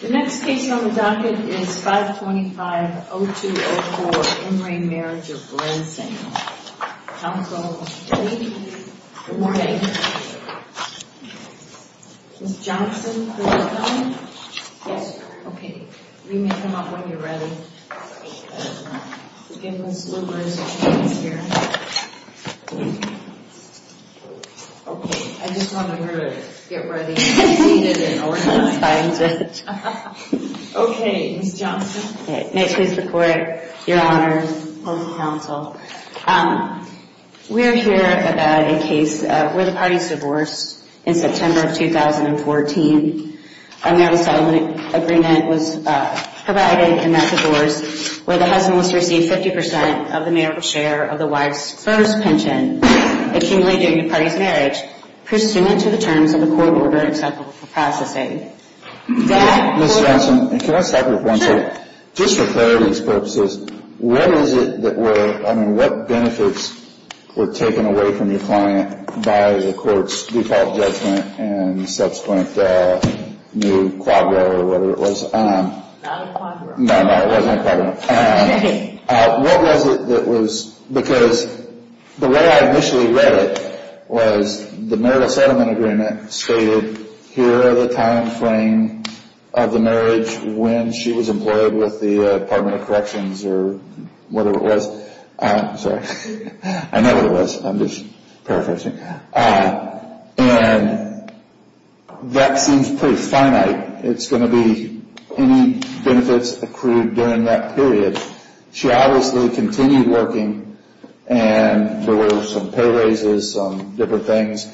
The next case on the docket is 525-0204, Emory Marriage of Rensing. Counsel, are you ready? Good morning. Ms. Johnson, please come in. Yes, ma'am. Okay, you may come up when you're ready. Again, Ms. Luber is here. Okay, I just wanted her to get ready and seated and organized. Okay, Ms. Johnson. May it please the Court, Your Honor, and the Counsel. We are here about a case where the party is divorced in September of 2014. A marital settlement agreement was provided in that divorce where the husband must receive 50% of the marital share of the wife's first pension accumulated during the party's marriage pursuant to the terms of the court order acceptable for processing. Ms. Johnson, can I start with one thing? Just for clarity's purposes, what is it that were, I mean, what benefits were taken away from your client by the court's default judgment and subsequent new quadro or whatever it was? Not a quadro. No, no, it wasn't a quadro. What was it that was, because the way I initially read it was the marital settlement agreement stated, here are the timeframe of the marriage when she was employed with the Department of Corrections or whatever it was. Sorry, I know what it was. I'm just paraphrasing. And that seems pretty finite. It's going to be any benefits accrued during that period. She obviously continued working, and there were some pay raises, some different things.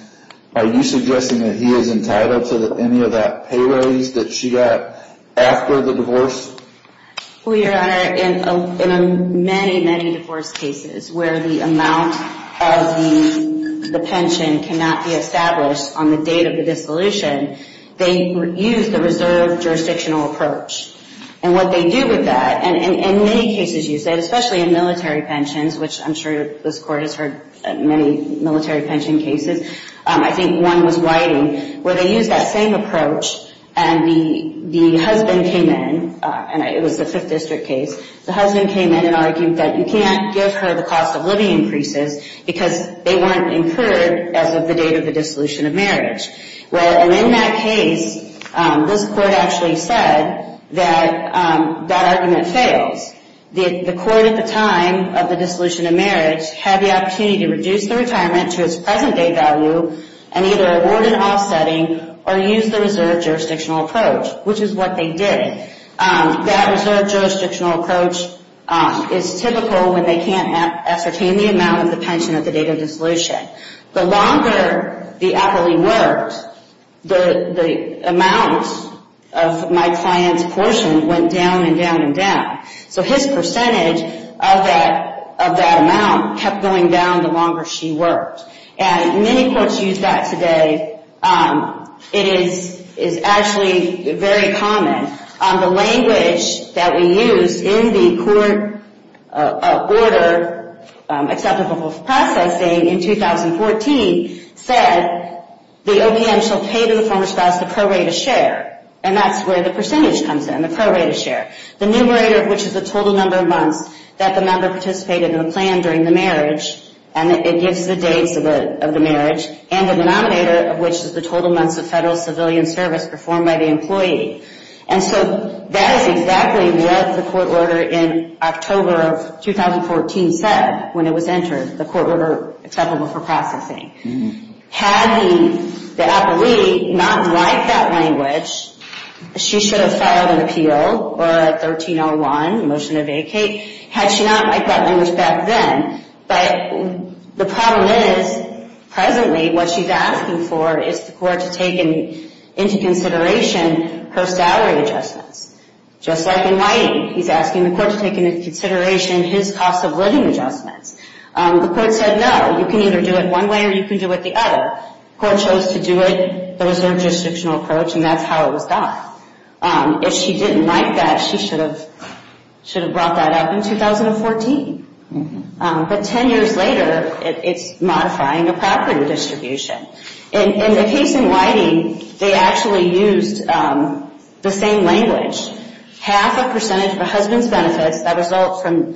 Are you suggesting that he is entitled to any of that pay raise that she got after the divorce? Well, Your Honor, in many, many divorce cases where the amount of the pension cannot be established on the date of the dissolution, they use the reserve jurisdictional approach. And what they do with that, and in many cases you said, especially in military pensions, which I'm sure this Court has heard many military pension cases, I think one was Whiting, where they used that same approach and the husband came in, and it was the Fifth District case. The husband came in and argued that you can't give her the cost of living increases because they weren't incurred as of the date of the dissolution of marriage. And in that case, this Court actually said that that argument fails. The Court at the time of the dissolution of marriage had the opportunity to reduce the retirement to its present-day value and either award an offsetting or use the reserve jurisdictional approach, which is what they did. That reserve jurisdictional approach is typical when they can't ascertain the amount of the pension at the date of dissolution. The longer the appellee worked, the amount of my client's portion went down and down and down. So his percentage of that amount kept going down the longer she worked. And many courts use that today. It is actually very common. The language that we used in the court order, Acceptable Processing, in 2014, said the OPM shall pay to the former spouse the pro rata share. And that's where the percentage comes in, the pro rata share. The numerator, which is the total number of months that the member participated in the plan during the marriage, and it gives the dates of the marriage, and the denominator, which is the total months of federal civilian service performed by the employee. And so that is exactly what the court order in October of 2014 said when it was entered, the court order Acceptable for Processing. Had the appellee not liked that language, she should have filed an appeal or a 1301, a motion to vacate. Had she not liked that language back then, but the problem is, presently, what she's asking for is the court to take into consideration her salary adjustments. Just like in writing, he's asking the court to take into consideration his cost of living adjustments. The court said, no, you can either do it one way or you can do it the other. The court chose to do it the reserved jurisdictional approach, and that's how it was done. If she didn't like that, she should have brought that up in 2014. But 10 years later, it's modifying a property distribution. In the case in Whiting, they actually used the same language. Half a percentage of a husband's benefits that result from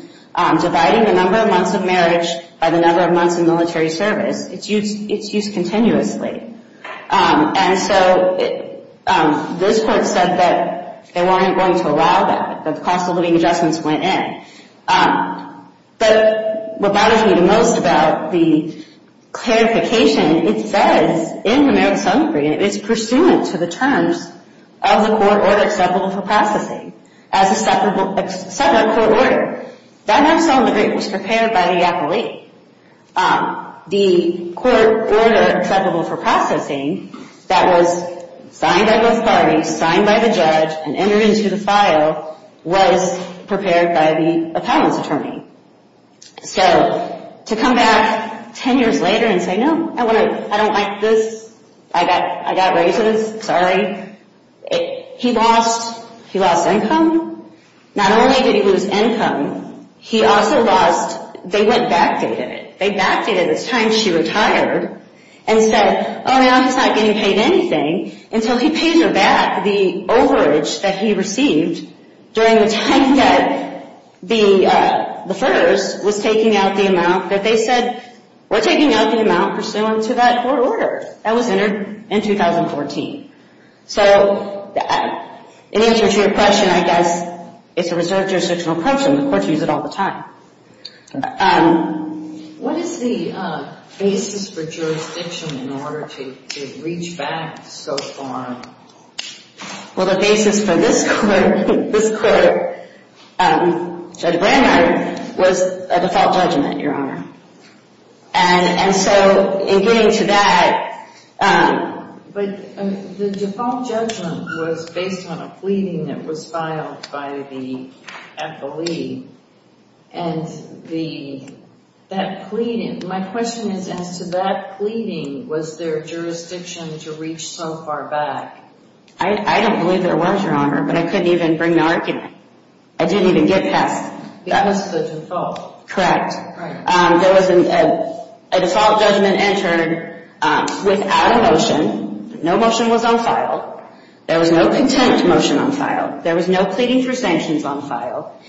dividing the number of months of marriage by the number of months in military service, it's used continuously. And so this court said that they weren't going to allow that. The cost of living adjustments went in. But what bothers me the most about the clarification, it says in the marriage settlement agreement, it's pursuant to the terms of the court order acceptable for processing as a separate court order. That marriage settlement agreement was prepared by the appellee. The court order acceptable for processing that was signed by both parties, signed by the judge, and entered into the file was prepared by the appellant's attorney. So to come back 10 years later and say, no, I don't like this. I got raised with this. Sorry. He lost income. Not only did he lose income, he also lost, they went backdated it. They backdated it. It's time she retired and said, oh, now he's not getting paid anything. And so he pays her back the overage that he received during the time that the FERS was taking out the amount that they said, we're taking out the amount pursuant to that court order. That was entered in 2014. So in answer to your question, I guess it's a reserved jurisdictional question. The courts use it all the time. What is the basis for jurisdiction in order to reach back so far? Well, the basis for this court, Judge Brandeis, was a default judgment, Your Honor. And so in getting to that. But the default judgment was based on a pleading that was filed by the appellee. And that pleading, my question is, as to that pleading, was there jurisdiction to reach so far back? I don't believe there was, Your Honor, but I couldn't even bring the argument. I didn't even get past. It was the default. Correct. There was a default judgment entered without a motion. No motion was on file. There was no content motion on file. There was no pleading for sanctions on file.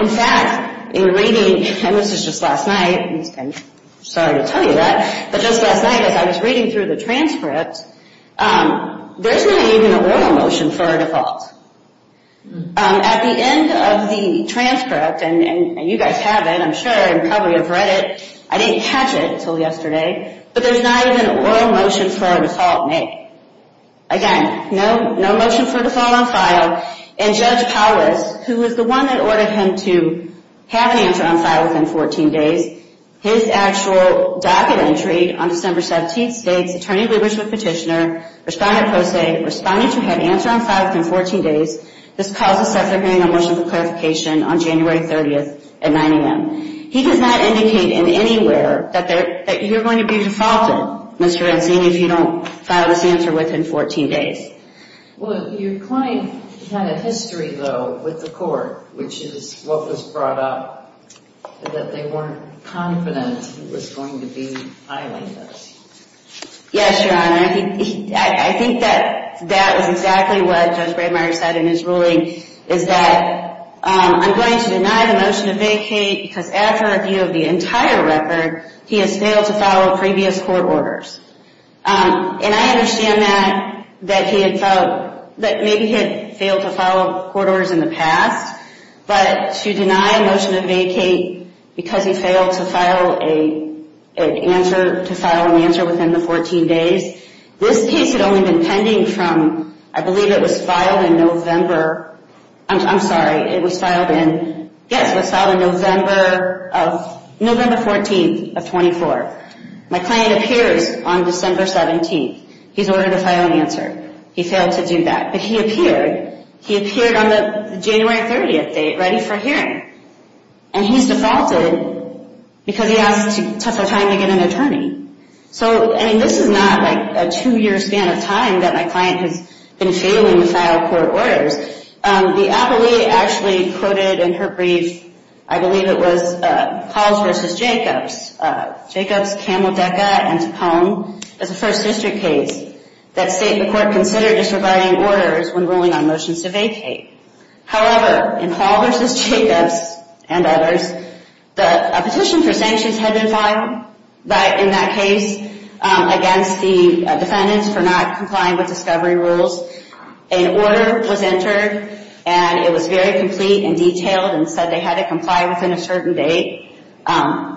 In fact, in reading, and this is just last night, and sorry to tell you that, but just last night as I was reading through the transcript, there's not even a royal motion for a default. At the end of the transcript, and you guys have it, I'm sure, and probably have read it, I didn't catch it until yesterday, but there's not even a royal motion for a default made. Again, no motion for default on file. And Judge Powis, who was the one that ordered him to have an answer on file within 14 days, his actual docket entry on December 17th states, Attorney Lubitsch with Petitioner, Respondent Posey, responding to have answer on file within 14 days. This cause is set for hearing a motion for clarification on January 30th at 9 a.m. He does not indicate in anywhere that you're going to be defaulted, Mr. Renzini, if you don't file this answer within 14 days. Well, your client had a history, though, with the court, which is what was brought up, that they weren't confident he was going to be violated. Yes, Your Honor. I think that that was exactly what Judge Braymeyer said in his ruling, is that I'm going to deny the motion to vacate because after review of the entire record, he has failed to follow previous court orders. And I understand that maybe he had failed to follow court orders in the past, but to deny a motion to vacate because he failed to file an answer within the 14 days, this case had only been pending from, I believe it was filed in November. I'm sorry, it was filed in, yes, it was filed in November 14th of 24th. My client appears on December 17th. He's ordered to file an answer. He failed to do that. But he appeared. He appeared on the January 30th date, ready for hearing. And he's defaulted because he asked for time to get an attorney. So, I mean, this is not like a two-year span of time that my client has been failing to file court orders. The appellee actually quoted in her brief, I believe it was Halls v. Jacobs, Jacobs, Camlodeca, and Tupone as a First District case that the court considered as providing orders when ruling on motions to vacate. However, in Halls v. Jacobs and others, a petition for sanctions had been filed in that case against the defendants for not complying with discovery rules. An order was entered, and it was very complete and detailed and said they had to comply within a certain date.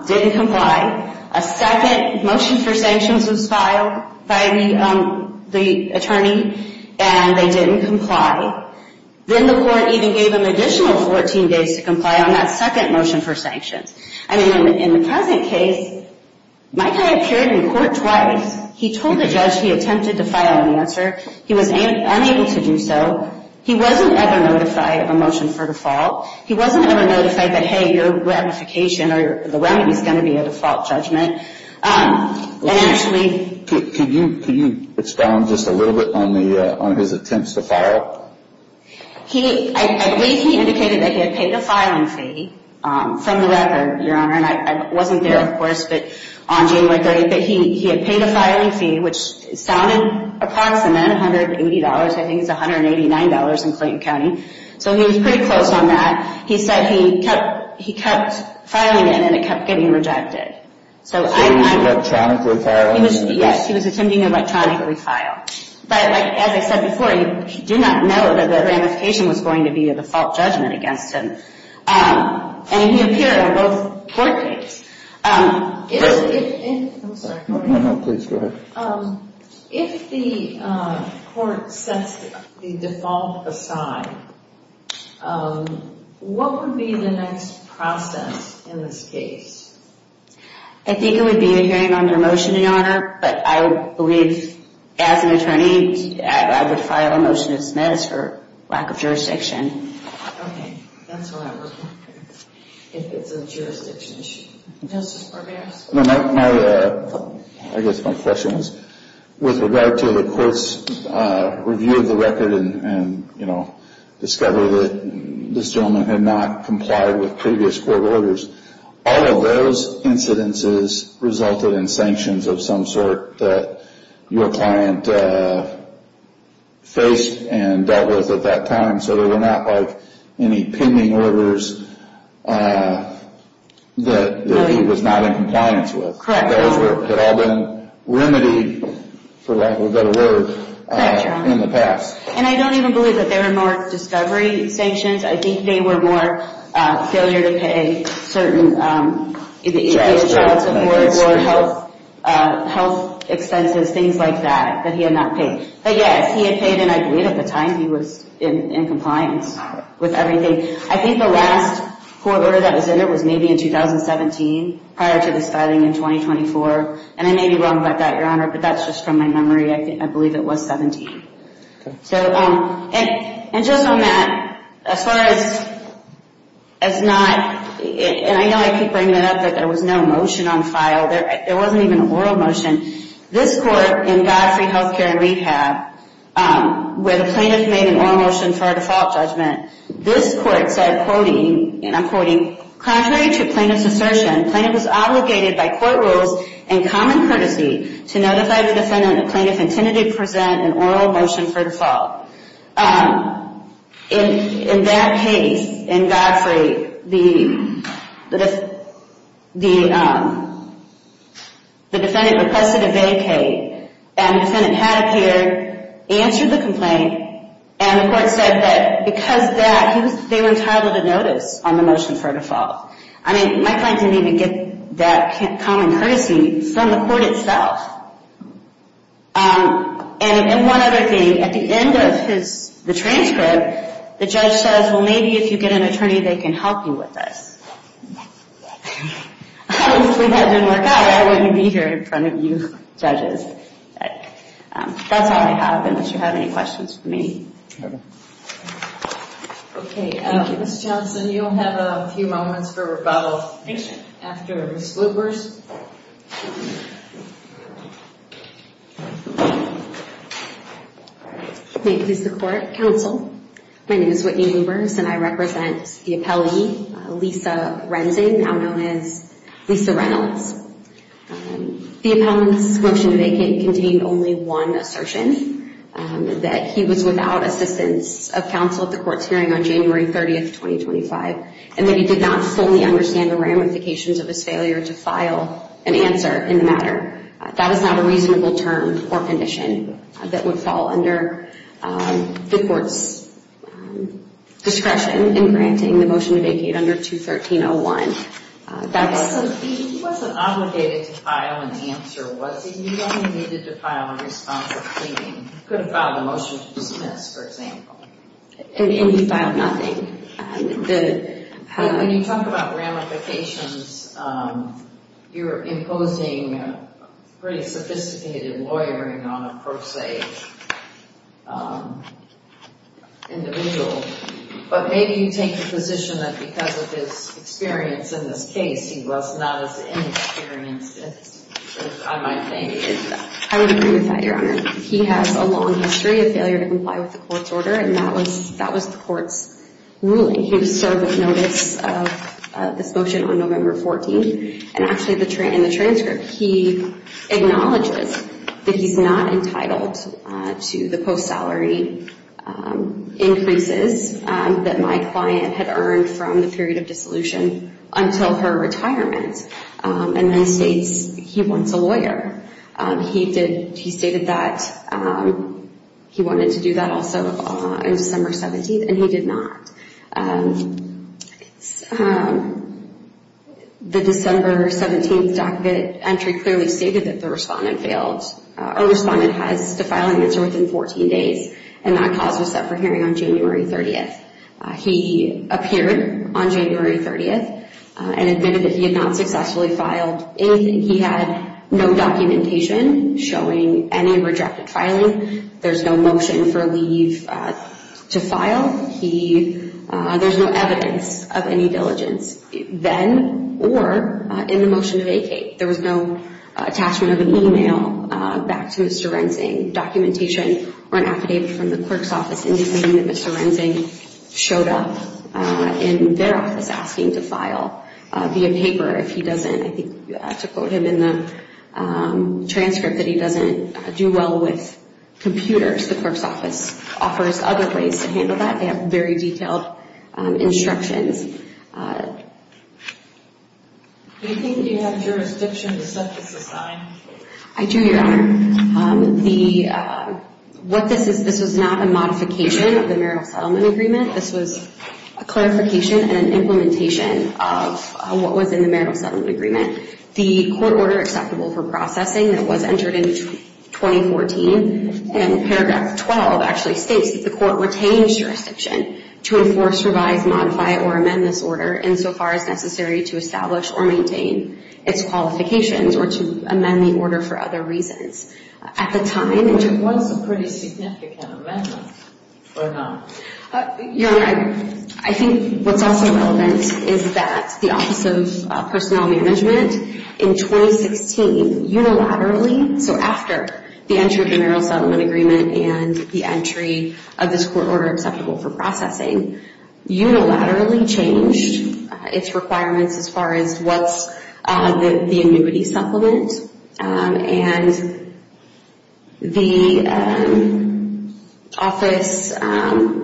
Didn't comply. A second motion for sanctions was filed by the attorney, and they didn't comply. Then the court even gave them additional 14 days to comply on that second motion for sanctions. I mean, in the present case, my guy appeared in court twice. He told the judge he attempted to file an answer. He was unable to do so. He wasn't ever notified of a motion for default. He wasn't ever notified that, hey, your ratification or the remedy is going to be a default judgment. And actually... Can you expound just a little bit on his attempts to file? I believe he indicated that he had paid a filing fee from the record, Your Honor. And I wasn't there, of course, but on January 30th. He had paid a filing fee, which sounded approximate, $180. I think it's $189 in Clayton County. So he was pretty close on that. He said he kept filing it, and it kept getting rejected. So he was electronically filing? Yes, he was attempting to electronically file. But, as I said before, you do not know that the ratification was going to be a default judgment against him. And he appeared on both court dates. If the court sets the default aside, what would be the next process in this case? I think it would be a hearing on their motion, Your Honor. But I believe, as an attorney, I would file a motion to dismiss for lack of jurisdiction. Okay, that's what I was wondering. If it's a jurisdiction issue. Justice Barberos? I guess my question was, with regard to the court's review of the record and discovery that this gentleman had not complied with previous court orders, all of those incidences resulted in sanctions of some sort that your client faced and dealt with at that time. So there were not, like, any pending orders that he was not in compliance with. Correct. Those had all been remedied, for lack of a better word, in the past. And I don't even believe that they were more discovery sanctions. I think they were more failure to pay certain... health expenses, things like that, that he had not paid. But yes, he had paid, and I believe at the time he was in compliance with everything. I think the last court order that was in it was maybe in 2017, prior to this filing in 2024. And I may be wrong about that, Your Honor, but that's just from my memory. I believe it was 17. And just on that, as far as not... And I know I keep bringing it up, but there was no motion on file. There wasn't even an oral motion. This court, in Godfrey Health Care and Rehab, where the plaintiff made an oral motion for a default judgment, this court said, and I'm quoting, Contrary to plaintiff's assertion, plaintiff was obligated by court rules and common courtesy to notify the defendant the plaintiff intended to present an oral motion for default. In that case, in Godfrey, the defendant requested a vacate, and the defendant had appeared, answered the complaint, and the court said that because of that, they were entitled to notice on the motion for default. I mean, my client didn't even get that common courtesy from the court itself. And one other thing, at the end of the transcript, the judge says, Well, maybe if you get an attorney, they can help you with this. Obviously, that didn't work out. I wouldn't be here in front of you judges. That's all I have, unless you have any questions for me. Okay. Thank you. Ms. Johnson, you'll have a few moments for rebuttal. Thank you. After Ms. Lubbers. May it please the Court. Counsel, my name is Whitney Lubbers, and I represent the appellee, Lisa Renzin, now known as Lisa Reynolds. The appellant's motion to vacate contained only one assertion, that he was without assistance of counsel at the court's hearing on January 30th, 2025, and that he did not fully understand the ramifications of his failure to file an answer in the matter. That is not a reasonable term or condition that would fall under the court's discretion in granting the motion to vacate under 213.01. He wasn't obligated to file an answer, was he? He only needed to file a response or claim. He could have filed a motion to dismiss, for example. And he filed nothing. When you talk about ramifications, you're imposing pretty sophisticated lawyering on a pro se individual. But maybe you take the position that because of his experience in this case, he was not as inexperienced as I might think. I would agree with that, Your Honor. He has a long history of failure to comply with the court's order, and that was the court's ruling. He was served with notice of this motion on November 14th. And actually in the transcript, he acknowledges that he's not entitled to the post-salary increases that my client had earned from the period of dissolution until her retirement, and then states he wants a lawyer. He stated that he wanted to do that also on December 17th, and he did not. The December 17th entry clearly stated that the respondent failed. Our respondent has to file an answer within 14 days, and that cause was set for hearing on January 30th. He appeared on January 30th and admitted that he had not successfully filed anything. He had no documentation showing any rejected filing. There's no motion for leave to file. There's no evidence of any diligence then or in the motion to vacate. There was no attachment of an email back to Mr. Rensing, documentation, or an affidavit from the clerk's office indicating that Mr. Rensing showed up in their office asking to file via paper. If he doesn't, I think you have to quote him in the transcript that he doesn't do well with computers. The clerk's office offers other ways to handle that. They have very detailed instructions. Do you think you have jurisdiction to set this aside? I do, Your Honor. What this is, this was not a modification of the marital settlement agreement. This was a clarification and an implementation of what was in the marital settlement agreement. The court order acceptable for processing that was entered in 2014, and paragraph 12 actually states that the court retains jurisdiction to enforce, revise, modify, or amend this order insofar as necessary to establish or maintain its qualifications or to amend the order for other reasons. It was a pretty significant amendment, or not? Your Honor, I think what's also relevant is that the Office of Personnel Management in 2016 unilaterally, so after the entry of the marital settlement agreement and the entry of this court order acceptable for processing, unilaterally changed its requirements as far as what's the annuity supplement. And the Office of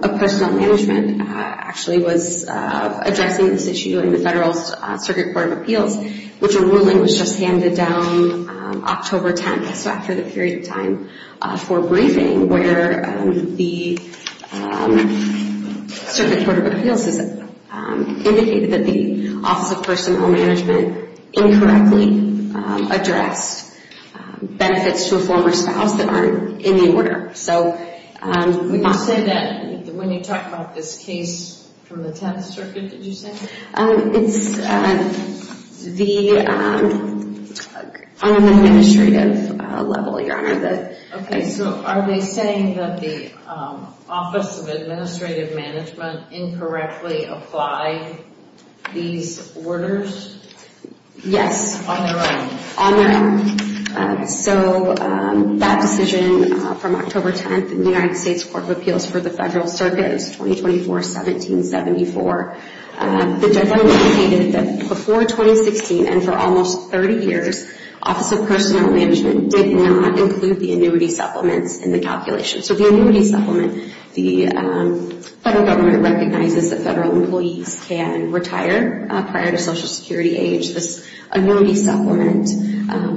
Personnel Management actually was addressing this issue in the Federal Circuit Court of Appeals, which a ruling was just handed down October 10th, so after the period of time for briefing, where the Circuit Court of Appeals has indicated that the Office of Personnel Management incorrectly addressed benefits to a former spouse that aren't in the order. Would you say that when you talk about this case from the Tenth Circuit, did you say? It's the unadministrative level, Your Honor. Okay, so are they saying that the Office of Administrative Management incorrectly applied these orders? Yes. On their own? On their own. So that decision from October 10th in the United States Court of Appeals for the Federal Circuit is 2024-1774. The judgment indicated that before 2016 and for almost 30 years, Office of Personnel Management did not include the annuity supplements in the calculation. So the annuity supplement, the Federal Government recognizes that Federal employees can retire prior to Social Security age. This annuity supplement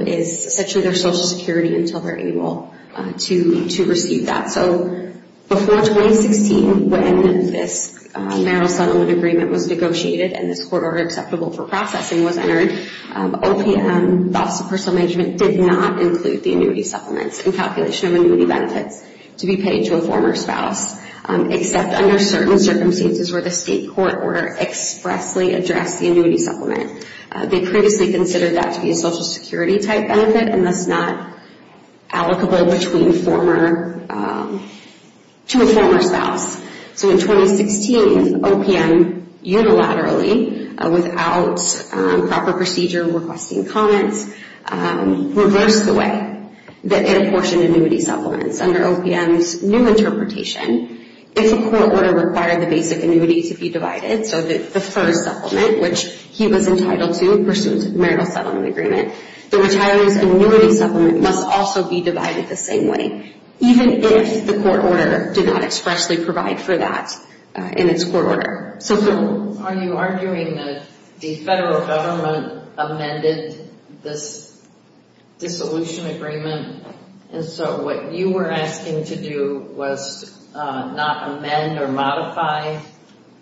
is essentially their Social Security until they're able to receive that. So before 2016, when this marital settlement agreement was negotiated and this court order acceptable for processing was entered, OPM, the Office of Personnel Management, did not include the annuity supplements in calculation of annuity benefits to be paid to a former spouse, except under certain circumstances where the state court order expressly addressed the annuity supplement. They previously considered that to be a Social Security-type benefit and thus not allocable to a former spouse. So in 2016, OPM unilaterally, without proper procedure requesting comments, reversed the way that it apportioned annuity supplements. Under OPM's new interpretation, if a court order required the basic annuity to be divided, so the first supplement, which he was entitled to pursuant to the marital settlement agreement, the retiree's annuity supplement must also be divided the same way, even if the court order did not expressly provide for that in its court order. So are you arguing that the federal government amended this dissolution agreement? And so what you were asking to do was not amend or modify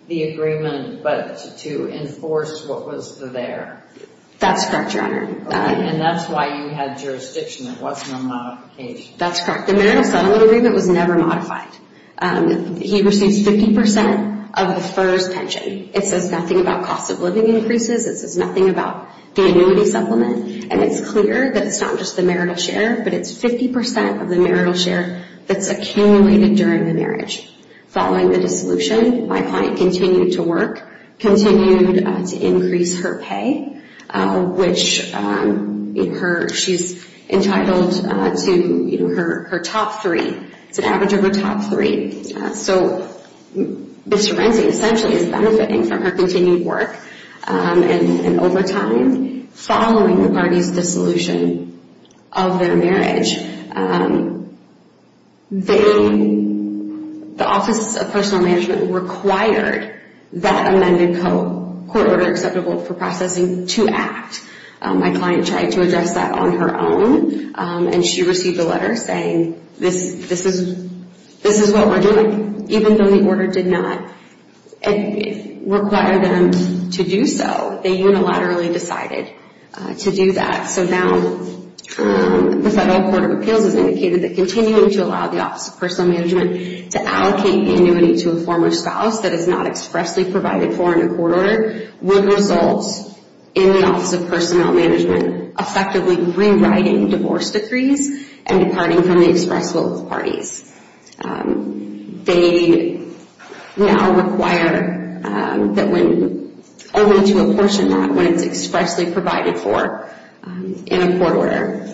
the agreement, but to enforce what was there? That's correct, Your Honor. And that's why you had jurisdiction. It wasn't a modification. That's correct. The marital settlement agreement was never modified. He receives 50% of the first pension. It says nothing about cost of living increases. It says nothing about the annuity supplement. And it's clear that it's not just the marital share, but it's 50% of the marital share that's accumulated during the marriage. Following the dissolution, my client continued to work, continued to increase her pay, which she's entitled to her top three. It's an average of her top three. So Mr. Renzi essentially is benefiting from her continued work. And over time, following the parties' dissolution of their marriage, the Office of Personal Management required that amended court order acceptable for processing to act. My client tried to address that on her own, and she received a letter saying this is what we're doing. Even though the order did not require them to do so, they unilaterally decided to do that. So now the Federal Court of Appeals has indicated that continuing to allow the Office of Personal Management to allocate the annuity to a former spouse that is not expressly provided for in a court order would result in the Office of Personnel Management effectively rewriting divorce decrees and departing from the express will of the parties. They now require that when only to apportion that when it's expressly provided for in a court order.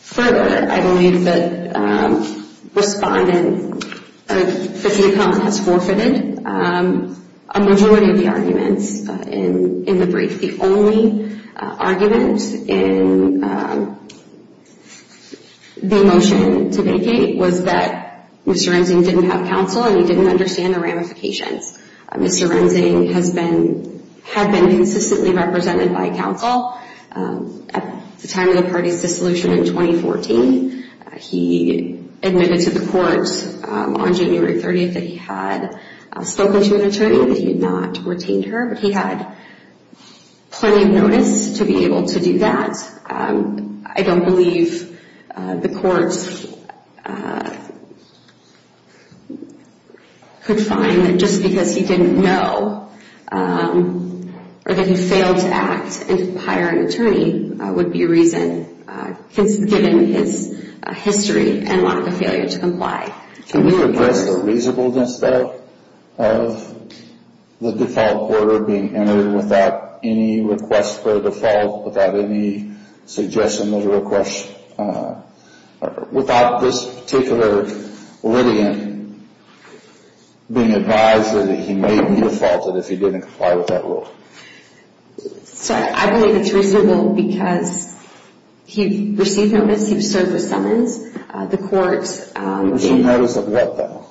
Further, I believe that Respondent Fitzsimmons has forfeited a majority of the arguments in the brief. The only argument in the motion to vacate was that Mr. Renzi didn't have counsel and he didn't understand the ramifications. Mr. Renzi had been consistently represented by counsel at the time of the party's dissolution in 2014. He admitted to the court on January 30th that he had spoken to an attorney, that he had not retained her, but he had plenty of notice to be able to do that. I don't believe the courts could find that just because he didn't know or that he failed to act and hire an attorney would be a reason given his history and lack of failure to comply. Can we address the reasonableness, though, of the default order being entered without any request for a default, without any suggestion of request, without this particular litigant being advised that he may be defaulted if he didn't comply with that rule? Sir, I believe it's reasonable because he received no notice, he was served with summons. The courts in... In matters of what, though?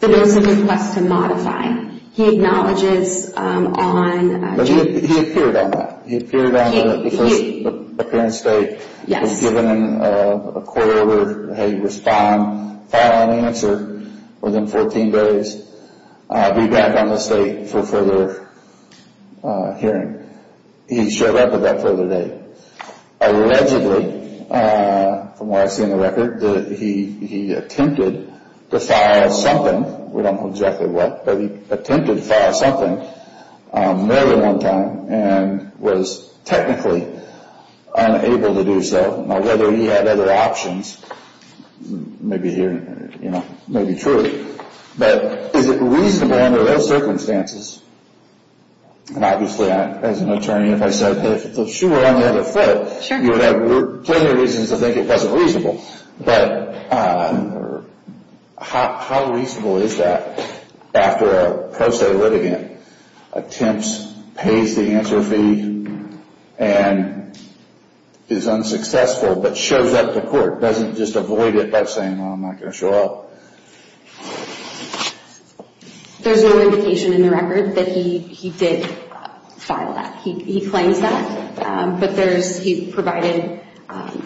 The bill simply requests to modify. He acknowledges on... But he appeared on that. He appeared on the first appearance date. He was given a court order, how you respond, file an answer within 14 days, be back on this date for further hearing. He showed up at that further date. Allegedly, from what I've seen in the record, he attempted to file something. We don't know exactly what, but he attempted to file something more than one time and was technically unable to do so. Now, whether he had other options may be true. But is it reasonable under those circumstances? And obviously, as an attorney, if I said, if the shoe were on the other foot, you would have plenty of reasons to think it wasn't reasonable. But how reasonable is that after a pro se litigant attempts, pays the answer fee, and is unsuccessful but shows up to court? Doesn't just avoid it by saying, well, I'm not going to show up. There's no indication in the record that he did file that. He claims that, but there's... He provided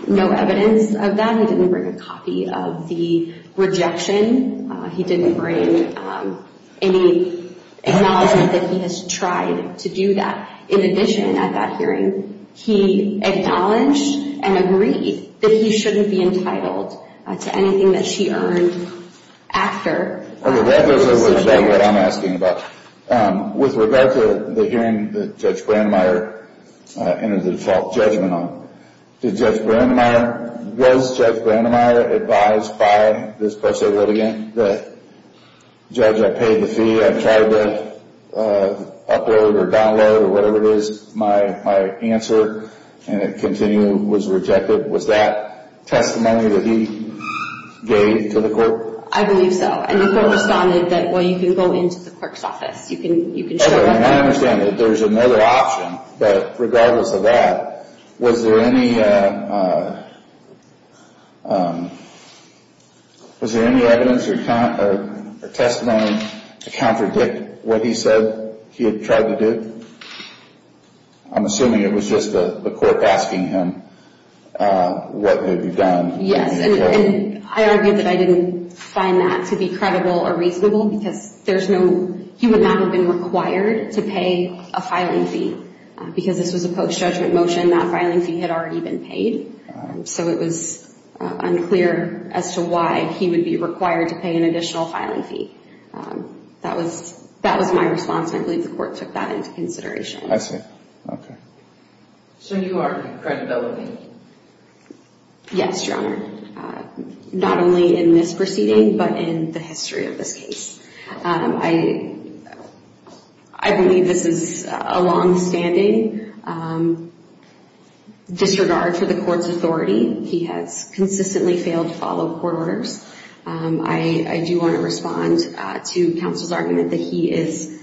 no evidence of that. He didn't bring a copy of the rejection. He didn't bring any acknowledgement that he has tried to do that. In addition, at that hearing, he acknowledged and agreed that he shouldn't be entitled to anything that she earned after. Okay, that is exactly what I'm asking about. With regard to the hearing that Judge Brandemeier entered the default judgment on, did Judge Brandemeier, was Judge Brandemeier advised by this pro se litigant that, Judge, I paid the fee, I tried to upload or download or whatever it is, my answer, and it continued, was rejected. Was that testimony that he gave to the court? I believe so, and the court responded that, well, you can go into the clerk's office. You can show up... Okay, and I understand that there's another option, but regardless of that, was there any... Was there any evidence or testimony to contradict what he said he had tried to do? I'm assuming it was just the court asking him what may be done. Yes, and I argued that I didn't find that to be credible or reasonable because there's no... He would not have been required to pay a filing fee because this was a post-judgment motion. That filing fee had already been paid, so it was unclear as to why he would be required to pay an additional filing fee. That was my response, and I believe the court took that into consideration. I see, okay. So you argued credibility? Yes, Your Honor, not only in this proceeding, but in the history of this case. I believe this is a longstanding disregard for the court's authority. He has consistently failed to follow court orders. I do want to respond to counsel's argument that he has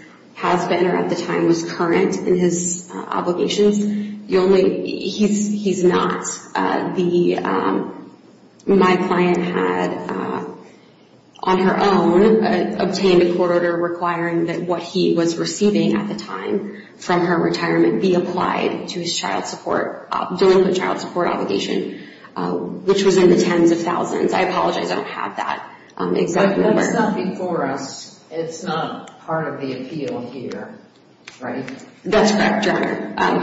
been or at the time was current in his obligations. The only... He's not. My client had, on her own, obtained a court order requiring that what he was receiving at the time from her retirement be applied to his child support during the child support obligation, which was in the tens of thousands. I apologize, I don't have that exact number. But that's not before us. It's not part of the appeal here, right? That's correct, Your Honor.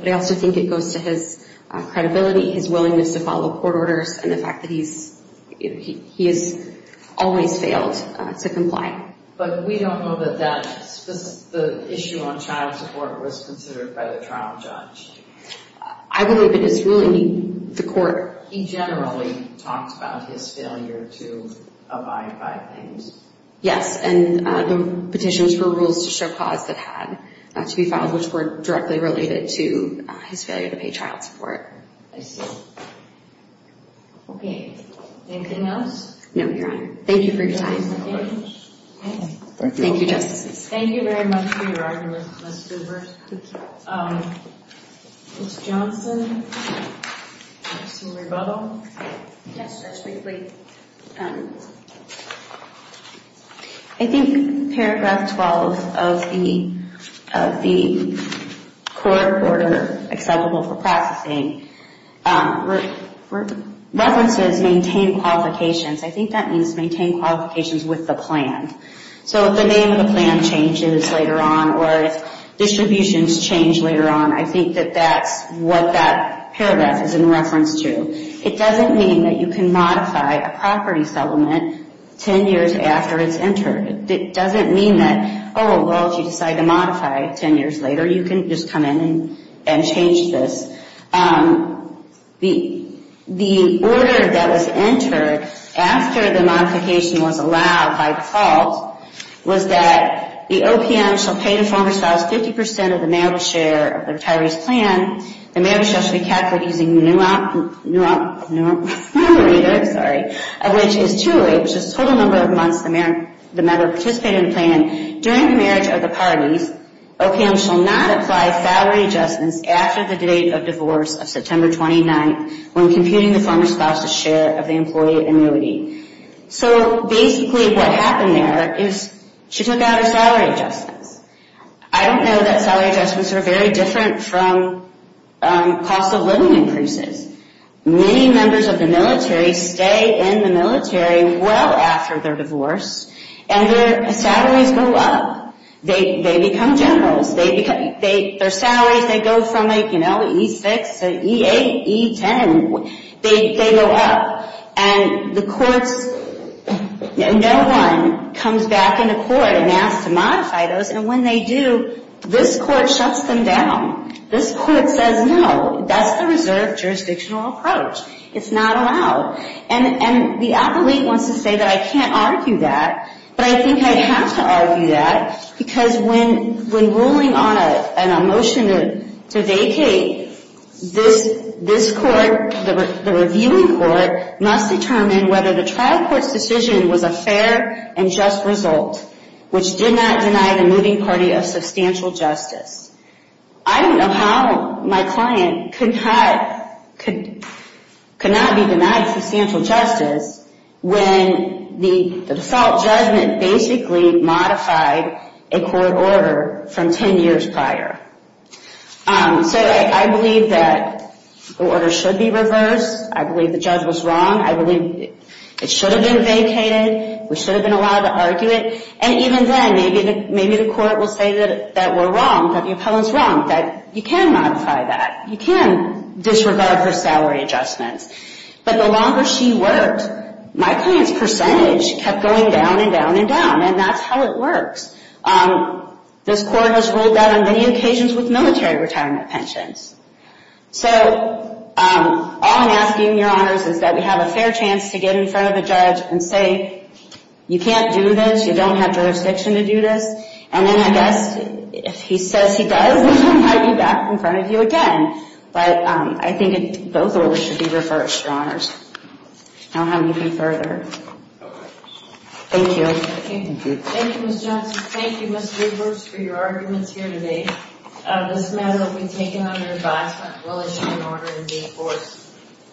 But I also think it goes to his credibility, his willingness to follow court orders, and the fact that he has always failed to comply. But we don't know that the issue on child support was considered by the trial judge. I believe it is ruling the court. He generally talks about his failure to abide by things. Yes, and the petitions were rules to show cause that had to be filed, which were directly related to his failure to pay child support. I see. Okay. Anything else? No, Your Honor. Thank you for your time. Thank you. Thank you, Justices. Thank you very much for your argument, Ms. Zuber. Ms. Johnson, do you have some rebuttal? Yes, Judge, briefly. I think paragraph 12 of the court order acceptable for processing references maintain qualifications. I think that means maintain qualifications with the plan. So if the name of the plan changes later on or if distributions change later on, I think that that's what that paragraph is in reference to. It doesn't mean that you can modify a property settlement 10 years after it's entered. It doesn't mean that, oh, well, if you decide to modify it 10 years later, you can just come in and change this. The order that was entered after the modification was allowed by default was that the OPM shall pay the former spouse 50% of the marriage share of the retiree's plan. The marriage shall be calculated using the new operator, sorry, which is 208, which is the total number of months the member participated in the plan. During the marriage of the parties, OPM shall not apply salary adjustments after the date of divorce of September 29th when computing the former spouse's share of the employee annuity. So basically what happened there is she took out her salary adjustments. I don't know that salary adjustments are very different from cost of living increases. Many members of the military stay in the military well after their divorce, and their salaries go up. They become generals. Their salaries, they go from E6 to E8, E10. They go up. And the courts, no one comes back into court and asks to modify those, and when they do, this court shuts them down. This court says no. That's the reserved jurisdictional approach. It's not allowed. And the appellate wants to say that I can't argue that, but I think I have to argue that, because when ruling on a motion to vacate, this court, the reviewing court, must determine whether the trial court's decision was a fair and just result, which did not deny the moving party of substantial justice. I don't know how my client could not be denied substantial justice when the default judgment basically modified a court order from 10 years prior. So I believe that the order should be reversed. I believe the judge was wrong. I believe it should have been vacated. We should have been allowed to argue it. And even then, maybe the court will say that we're wrong, that the appellant's wrong, that you can modify that. You can disregard her salary adjustments. But the longer she worked, my client's percentage kept going down and down and down, and that's how it works. This court has ruled that on many occasions with military retirement pensions. So all I'm asking, Your Honors, is that we have a fair chance to get in front of a judge and say, You can't do this. You don't have jurisdiction to do this. And then, I guess, if he says he does, we might be back in front of you again. But I think both orders should be reversed, Your Honors. I don't have anything further. Thank you. Thank you, Ms. Johnson. Thank you, Mr. Edwards, for your arguments here today. This matter will be taken under advisement. We'll issue an order and be enforced.